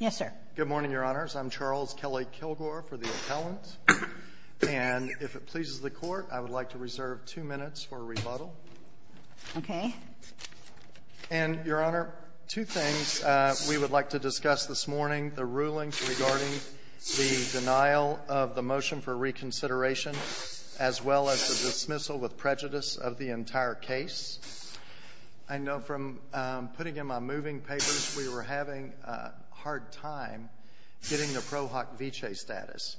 Yes, sir. Good morning, Your Honors. I'm Charles Kelley-Kilgore for the appellant, and if it pleases the Court, I would like to reserve two minutes for rebuttal. Okay. And, Your Honor, two things we would like to discuss this morning. The rulings regarding the denial of the motion for reconsideration, as well as the dismissal with prejudice of the entire case. I know from putting in my moving papers, we were having a hard time getting the Pro Hoc Vitae status.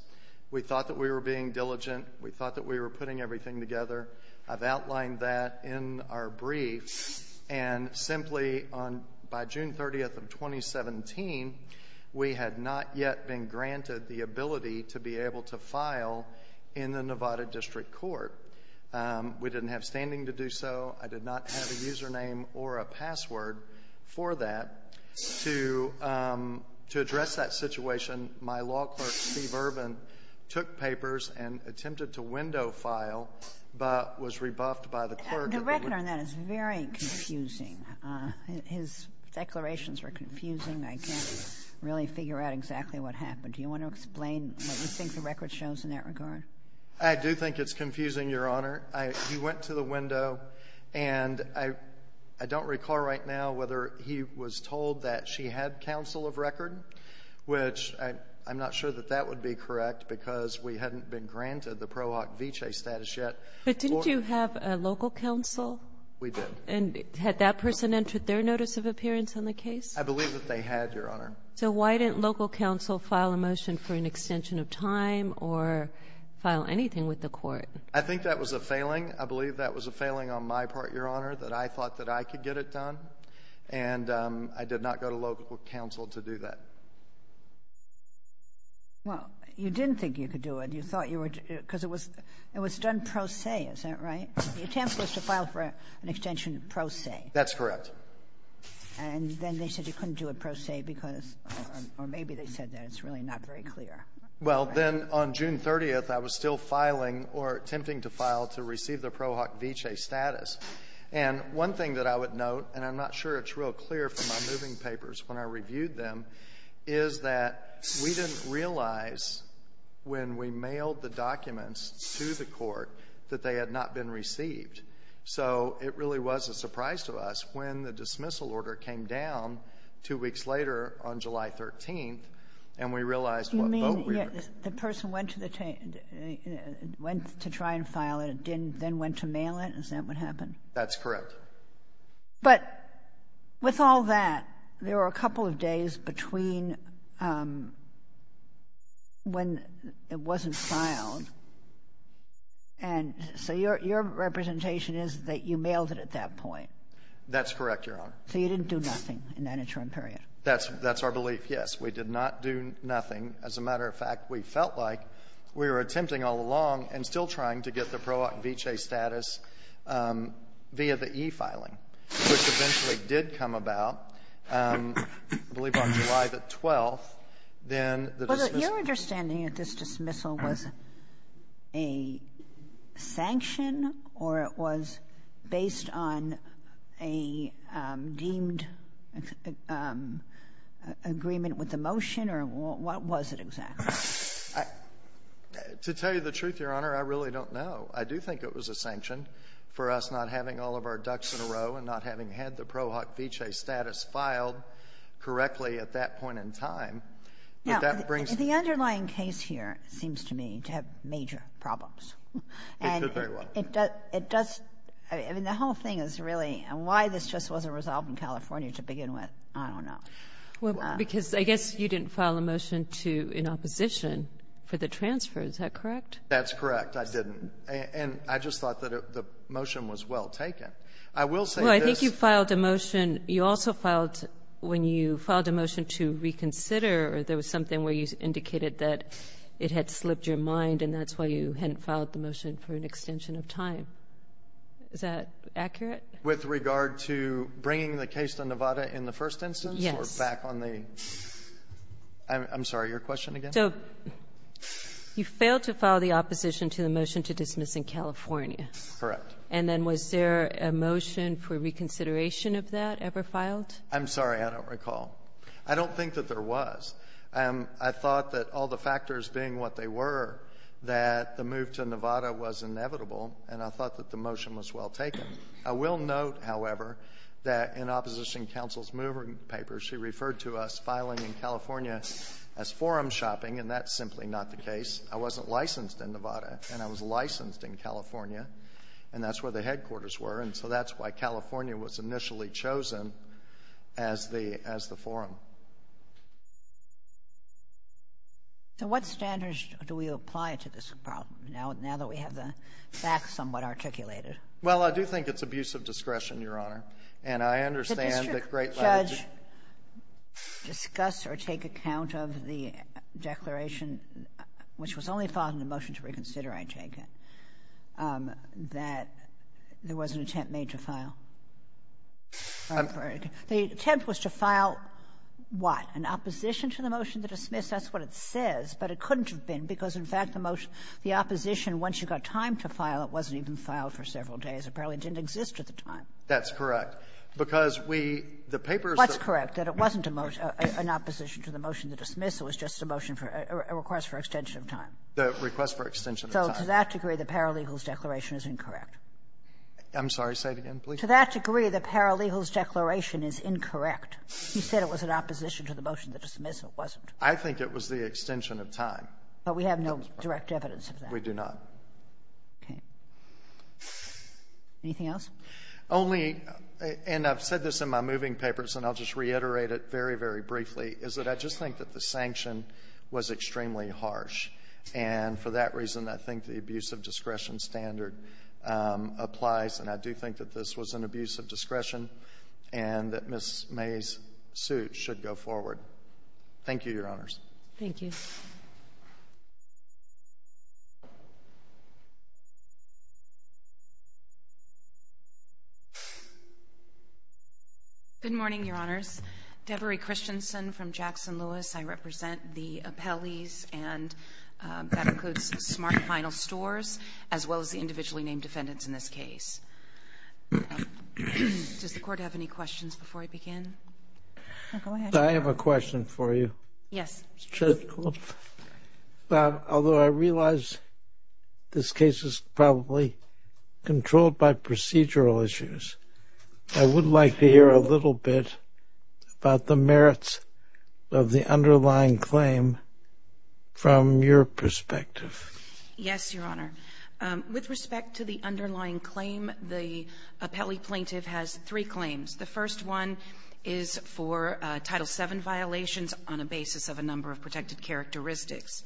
We thought that we were being diligent. We thought that we were putting everything together. I've outlined that in our brief, and simply, by June 30th of 2017, we had not yet been granted the ability to be able to file in the Nevada District Court. We didn't have standing to do so. I did not have a username or a password for that. To address that situation, my law clerk, Steve Urban, took papers and attempted to window-file, but was rebuffed by the clerk. The record on that is very confusing. His declarations were confusing. I can't really figure out exactly what happened. Do you want to explain what you think the record shows in that regard? I do think it's confusing, Your Honor. He went to the window, and I don't recall right now whether he was told that she had counsel of record, which I'm not sure that that would be correct, because we hadn't been granted the Pro Hoc Vitae status yet. But didn't you have a local counsel? We did. And had that person entered their notice of appearance on the case? I believe that they had, Your Honor. So why didn't local counsel file a motion for an extension of time or file anything with the court? I think that was a failing. I believe that was a failing on my part, Your Honor, that I thought that I could get it done. And I did not go to local counsel to do that. Well, you didn't think you could do it. You thought you were to do it because it was done pro se. Is that right? You attempted to file for an extension pro se. That's correct. And then they said you couldn't do it pro se because or maybe they said that. It's really not very clear. Well, then on June 30th, I was still filing or attempting to file to receive the Pro Hoc Vitae status. And one thing that I would note, and I'm not sure it's real clear from my moving papers when I reviewed them, is that we didn't realize when we mailed the documents to the court that they had not been received. So it really was a surprise to us when the dismissal order came down two weeks later on July 13th, and we realized what vote we were in. You mean the person went to try and file it and then went to mail it? Is that what happened? That's correct. But with all that, there were a couple of days between when it wasn't filed. And so your representation is that you mailed it at that point. That's correct, Your Honor. So you didn't do nothing in that interim period. That's our belief, yes. We did not do nothing. As a matter of fact, we felt like we were attempting all along and still trying to get the Pro Hoc Vitae status via the e-filing, which eventually did come about, I believe, on July the 12th. Then the dismissal order was used. Was there a deemed agreement with the motion, or what was it exactly? To tell you the truth, Your Honor, I really don't know. I do think it was a sanction for us not having all of our ducks in a row and not having had the Pro Hoc Vitae status filed correctly at that point in time. Now, the underlying case here seems to me to have major problems. It could very well. And it does — I mean, the whole thing is really — and why this just wasn't resolved in California to begin with, I don't know. Because I guess you didn't file a motion to — in opposition for the transfer. Is that correct? That's correct. I didn't. And I just thought that the motion was well taken. I will say this — Well, I think you filed a motion. You also filed — when you filed a motion to reconsider, there was something where you indicated that it had slipped your mind, and that's why you hadn't filed the motion for an extension of time. Is that accurate? With regard to bringing the case to Nevada in the first instance? Yes. Or back on the — I'm sorry. Your question again? So you failed to file the opposition to the motion to dismiss in California. Correct. And then was there a motion for reconsideration of that ever filed? I'm sorry. I don't recall. I don't think that there was. I thought that all the factors being what they were, that the move to Nevada was inevitable, and I thought that the motion was well taken. I will note, however, that in Opposition Council's moving papers, she referred to us filing in California as forum shopping, and that's simply not the case. I wasn't licensed in Nevada, and I was licensed in California, and that's where the headquarters were, and so that's why California was initially chosen as the forum. So what standards do we apply to this problem, now that we have the facts somewhat articulated? Well, I do think it's abuse of discretion, Your Honor. And I understand that great leadership — Did the district judge discuss or take account of the declaration, which was only filed in the motion to reconsider, I take it, that there was an attempt made to file? I'm sorry. The attempt was to file what? An opposition to the motion to dismiss? That's what it says. But it couldn't have been, because, in fact, the motion — the opposition, once you got the time to file, it wasn't even filed for several days. Apparently, it didn't exist at the time. That's correct. Because we — the papers that — What's correct? That it wasn't an opposition to the motion to dismiss. It was just a motion for — a request for extension of time. The request for extension of time. So to that degree, the paralegal's declaration is incorrect. I'm sorry. Say it again, please. To that degree, the paralegal's declaration is incorrect. You said it was an opposition to the motion to dismiss. It wasn't. I think it was the extension of time. But we have no direct evidence of that. We do not. Okay. Anything else? Only — and I've said this in my moving papers, and I'll just reiterate it very, very briefly, is that I just think that the sanction was extremely harsh. And for that reason, I think the abuse of discretion standard applies. And I do think that this was an abuse of discretion and that Ms. May's suit should go forward. Thank you, Your Honors. Thank you. Good morning, Your Honors. Debra Christensen from Jackson Lewis. I represent the appellees and that includes smart final stores, as well as the individually named defendants in this case. Does the Court have any questions before I begin? Go ahead. I have a question for you. Yes. Although I realize this case is probably controlled by procedural issues, I would like to hear a little bit about the merits of the underlying claim from your perspective. Yes, Your Honor. With respect to the underlying claim, the appellee plaintiff has three claims. The first one is for Title VII violations on a basis of a number of protected characteristics.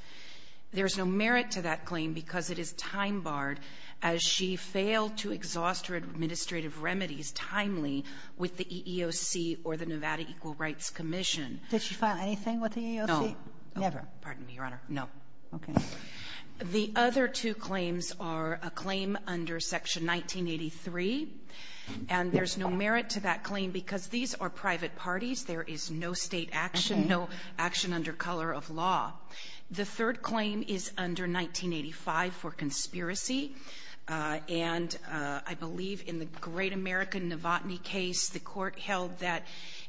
There's no merit to that claim because it is time-barred, as she failed to exhaust her administrative remedies timely with the EEOC or the Nevada Equal Rights Commission. Did she file anything with the EEOC? No. Never. Pardon me, Your Honor. No. Okay. The other two claims are a claim under Section 1983, and there's no merit to that claim because these are private parties. There is no State action, no action under color of law. The third claim is under 1985 for conspiracy, and I believe in the great American Novotny case, the Court held that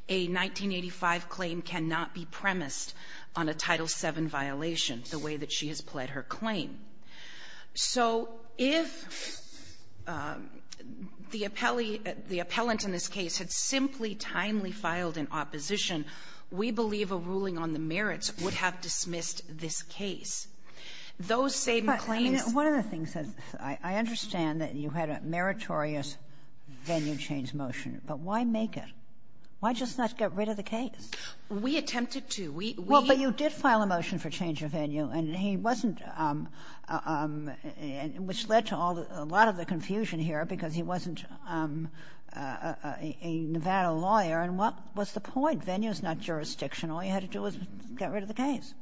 a 1985 claim cannot be premised on a Title VII violation the way that she has pled her claim. So if the appellee, the appellant in this case, had simply timely filed an opposition, we believe a ruling on the merits would have dismissed this case. Those same claims But, I mean, one of the things that I understand that you had a meritorious venue change motion, but why make it? Why just not get rid of the case? We attempted to. We did file a motion for change of venue. And he wasn't — which led to a lot of the confusion here because he wasn't a Nevada lawyer, and what was the point? Venue's not jurisdictional. All you had to do was get rid of the case.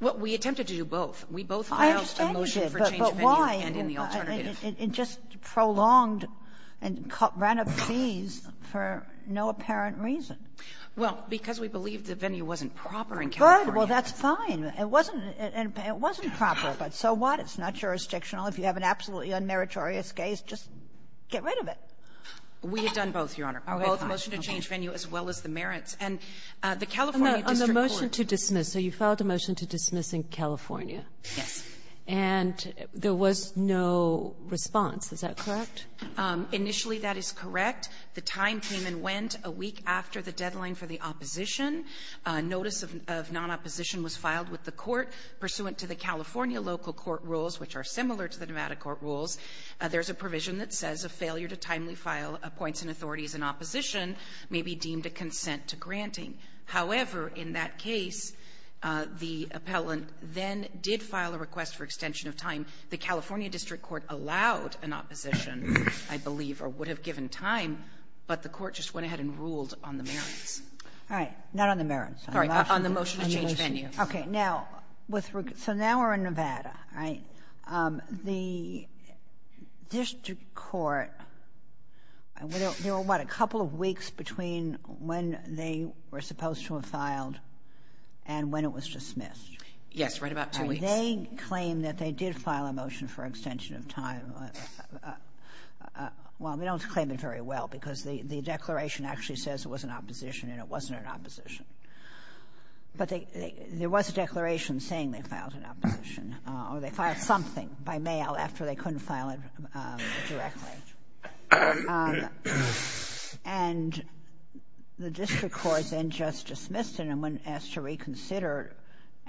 Well, we attempted to do both. We both filed a motion for change of venue and in the alternative. I understand you did, but why? It just prolonged and ran up fees for no apparent reason. Well, because we believed the venue wasn't proper in California. Good. Well, that's fine. It wasn't — it wasn't proper, but so what? It's not jurisdictional. If you have an absolutely unmeritorious case, just get rid of it. We had done both, Your Honor, both motion to change venue as well as the merits. And the California district court — On the motion to dismiss. So you filed a motion to dismiss in California. Yes. And there was no response. Is that correct? Initially, that is correct. The time came and went a week after the deadline for the opposition. Notice of non-opposition was filed with the court pursuant to the California local court rules, which are similar to the Nevada court rules. There's a provision that says a failure to timely file appoints and authorities in opposition may be deemed a consent to granting. However, in that case, the appellant then did file a request for extension of time. The California district court allowed an opposition, I believe, or would have given time, but the court just went ahead and ruled on the merits. All right. Not on the merits. Sorry. On the motion to change venue. Okay. Now, with regard to the Nevada, right, the district court, there were, what, a couple of weeks between when they were supposed to have filed and when it was dismissed. Yes. Right about two weeks. And they claimed that they did file a motion for extension of time. Well, we don't claim it very well because the declaration actually says it was an opposition and it wasn't an opposition. But there was a declaration saying they filed an opposition, or they filed something by mail after they couldn't file it directly. And the district court then just dismissed it and wouldn't ask to reconsider.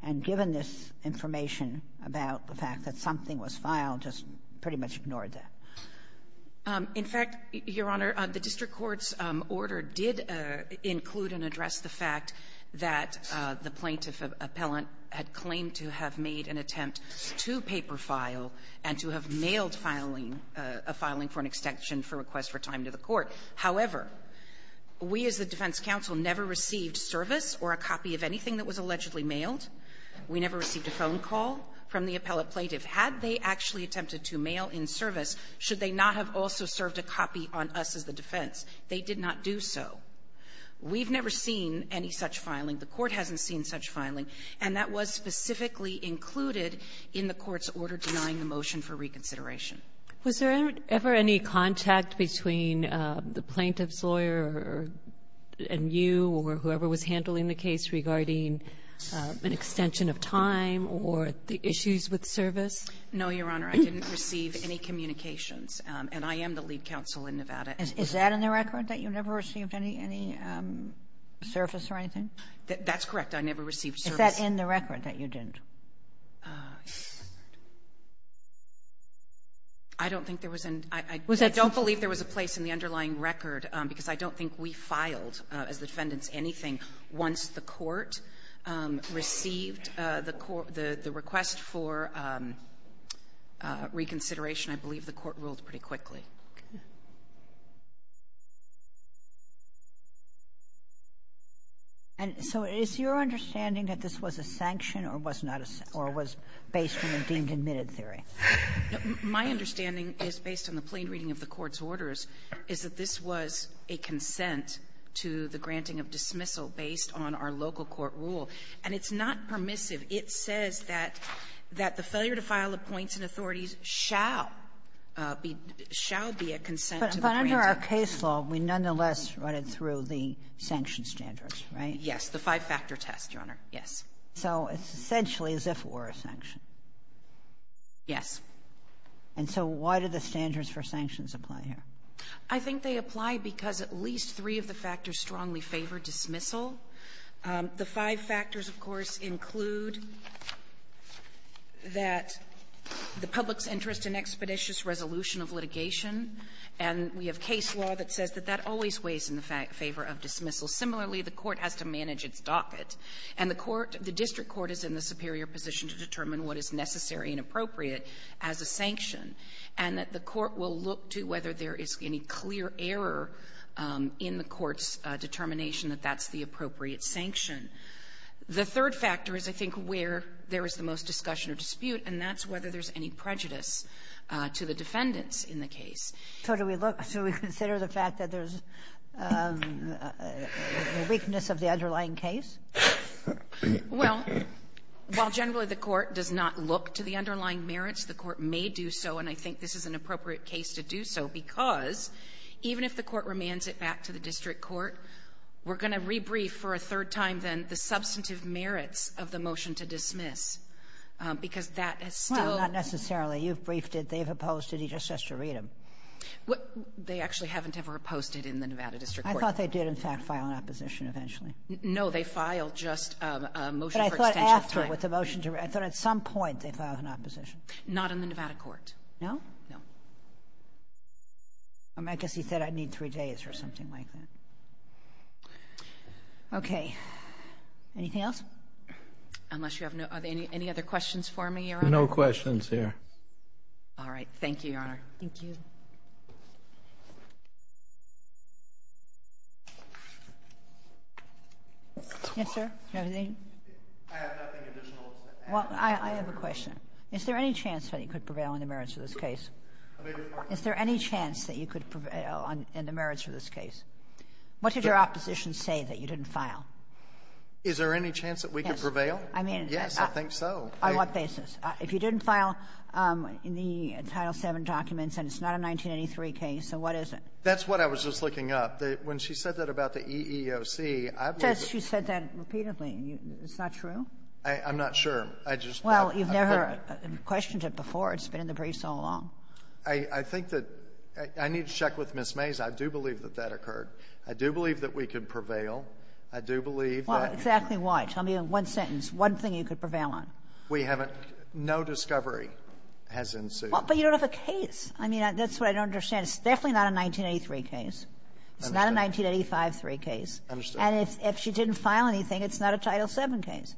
And given this information about the fact that something was filed, just pretty much ignored that. In fact, Your Honor, the district court's order did include and address the fact that the plaintiff appellant had claimed to have made an attempt to paper file and to have mailed filing, a filing for an extension for request for time to the court. However, we as the defense counsel never received service or a copy of anything that was allegedly mailed. We never received a phone call from the appellate plaintiff. Had they actually attempted to mail in service, should they not have also served a copy on us as the defense? They did not do so. We've never seen any such filing. The Court hasn't seen such filing. And that was specifically included in the Court's order denying the motion for reconsideration. Was there ever any contact between the plaintiff's lawyer and you or whoever was handling the case regarding an extension of time or the issues with service? No, Your Honor. I didn't receive any communications. And I am the lead counsel in Nevada. Is that in the record, that you never received any service or anything? That's correct. I never received service. Is that in the record, that you didn't? I don't think there was an — I don't believe there was a place in the underlying record, because I don't think we filed, as the defendants, anything once the Court received the court — the request for reconsideration. I believe the Court ruled pretty quickly. Okay. And so is your understanding that this was a sanction or was not a — or was based on a deemed-admitted theory? My understanding is, based on the plain reading of the Court's orders, is that this was a consent to the granting of dismissal based on our local court rule. And it's not permissive. It says that the failure to file appoints in authorities shall be — shall be a consent to the granting. But under our case law, we nonetheless run it through the sanction standards, right? Yes. The five-factor test, Your Honor. Yes. So it's essentially as if it were a sanction. Yes. And so why do the standards for sanctions apply here? I think they apply because at least three of the factors strongly favor dismissal. The five factors, of course, include that the public's interest in expeditious resolution of litigation, and we have case law that says that that always weighs in the favor of dismissal. Similarly, the Court has to manage its docket. And the court — the district court is in the superior position to determine what is necessary and appropriate as a sanction, and that the court will look to whether there is any clear error in the court's determination that that's the appropriate The third factor is, I think, where there is the most discussion or dispute, and that's whether there's any prejudice to the defendants in the case. So do we look — so we consider the fact that there's a weakness of the underlying case? Well, while generally the court does not look to the underlying merits, the court may do so, and I think this is an appropriate case to do so because even if the court remands it back to the district court, we're going to rebrief for a third time, then, the substantive merits of the motion to dismiss, because that has still — Well, not necessarily. You've briefed it. They've opposed it. He just has to read them. What — they actually haven't ever opposed it in the Nevada district court. I thought they did, in fact, file an opposition eventually. No, they filed just a motion for extension of time. But I thought after, with the motion to — I thought at some point they filed an opposition. Not in the Nevada court. No? No. I guess he said, I need three days or something like that. Okay. Anything else? Unless you have no — are there any other questions for me, Your Honor? No questions here. All right. Thank you, Your Honor. Thank you. Yes, sir. Do you have anything? I have nothing additional to say. Well, I have a question. Is there any chance that he could prevail in the merits of this case? Is there any chance that you could prevail in the merits of this case? What did your opposition say that you didn't file? Is there any chance that we could prevail? Yes. I mean — Yes, I think so. On what basis? If you didn't file in the Title VII documents and it's not a 1983 case, then what is it? That's what I was just looking up. When she said that about the EEOC, I believe — Yes, she said that repeatedly. It's not true? I'm not sure. I just — Well, you've never questioned it before. It's been in the briefs all along. I think that — I need to check with Ms. Mays. I do believe that that occurred. I do believe that we could prevail. I do believe that — Well, exactly why? Tell me in one sentence, one thing you could prevail on. We haven't — no discovery has ensued. But you don't have a case. I mean, that's what I don't understand. It's definitely not a 1983 case. It's not a 1985 case. I understand. And if she didn't file anything, it's not a Title VII case.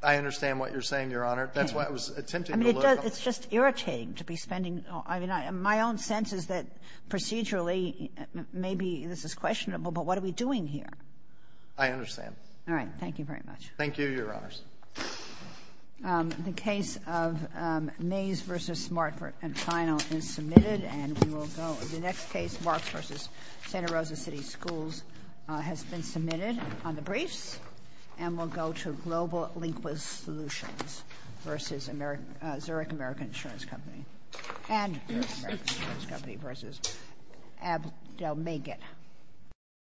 I understand what you're saying, Your Honor. That's why I was attempting to look up — I mean, it's just irritating to be spending — I mean, my own sense is that procedurally, maybe this is questionable, but what are we doing here? I understand. All right. Thank you very much. Thank you, Your Honors. The case of Mays v. Smart and Final is submitted, and we will go — the next case, Marks v. Santa Rosa City Schools, has been submitted on the briefs, and we'll go to Global Linquist Solutions v. Zurich American Insurance Company and Zurich American Insurance Company v. Abdelmegid.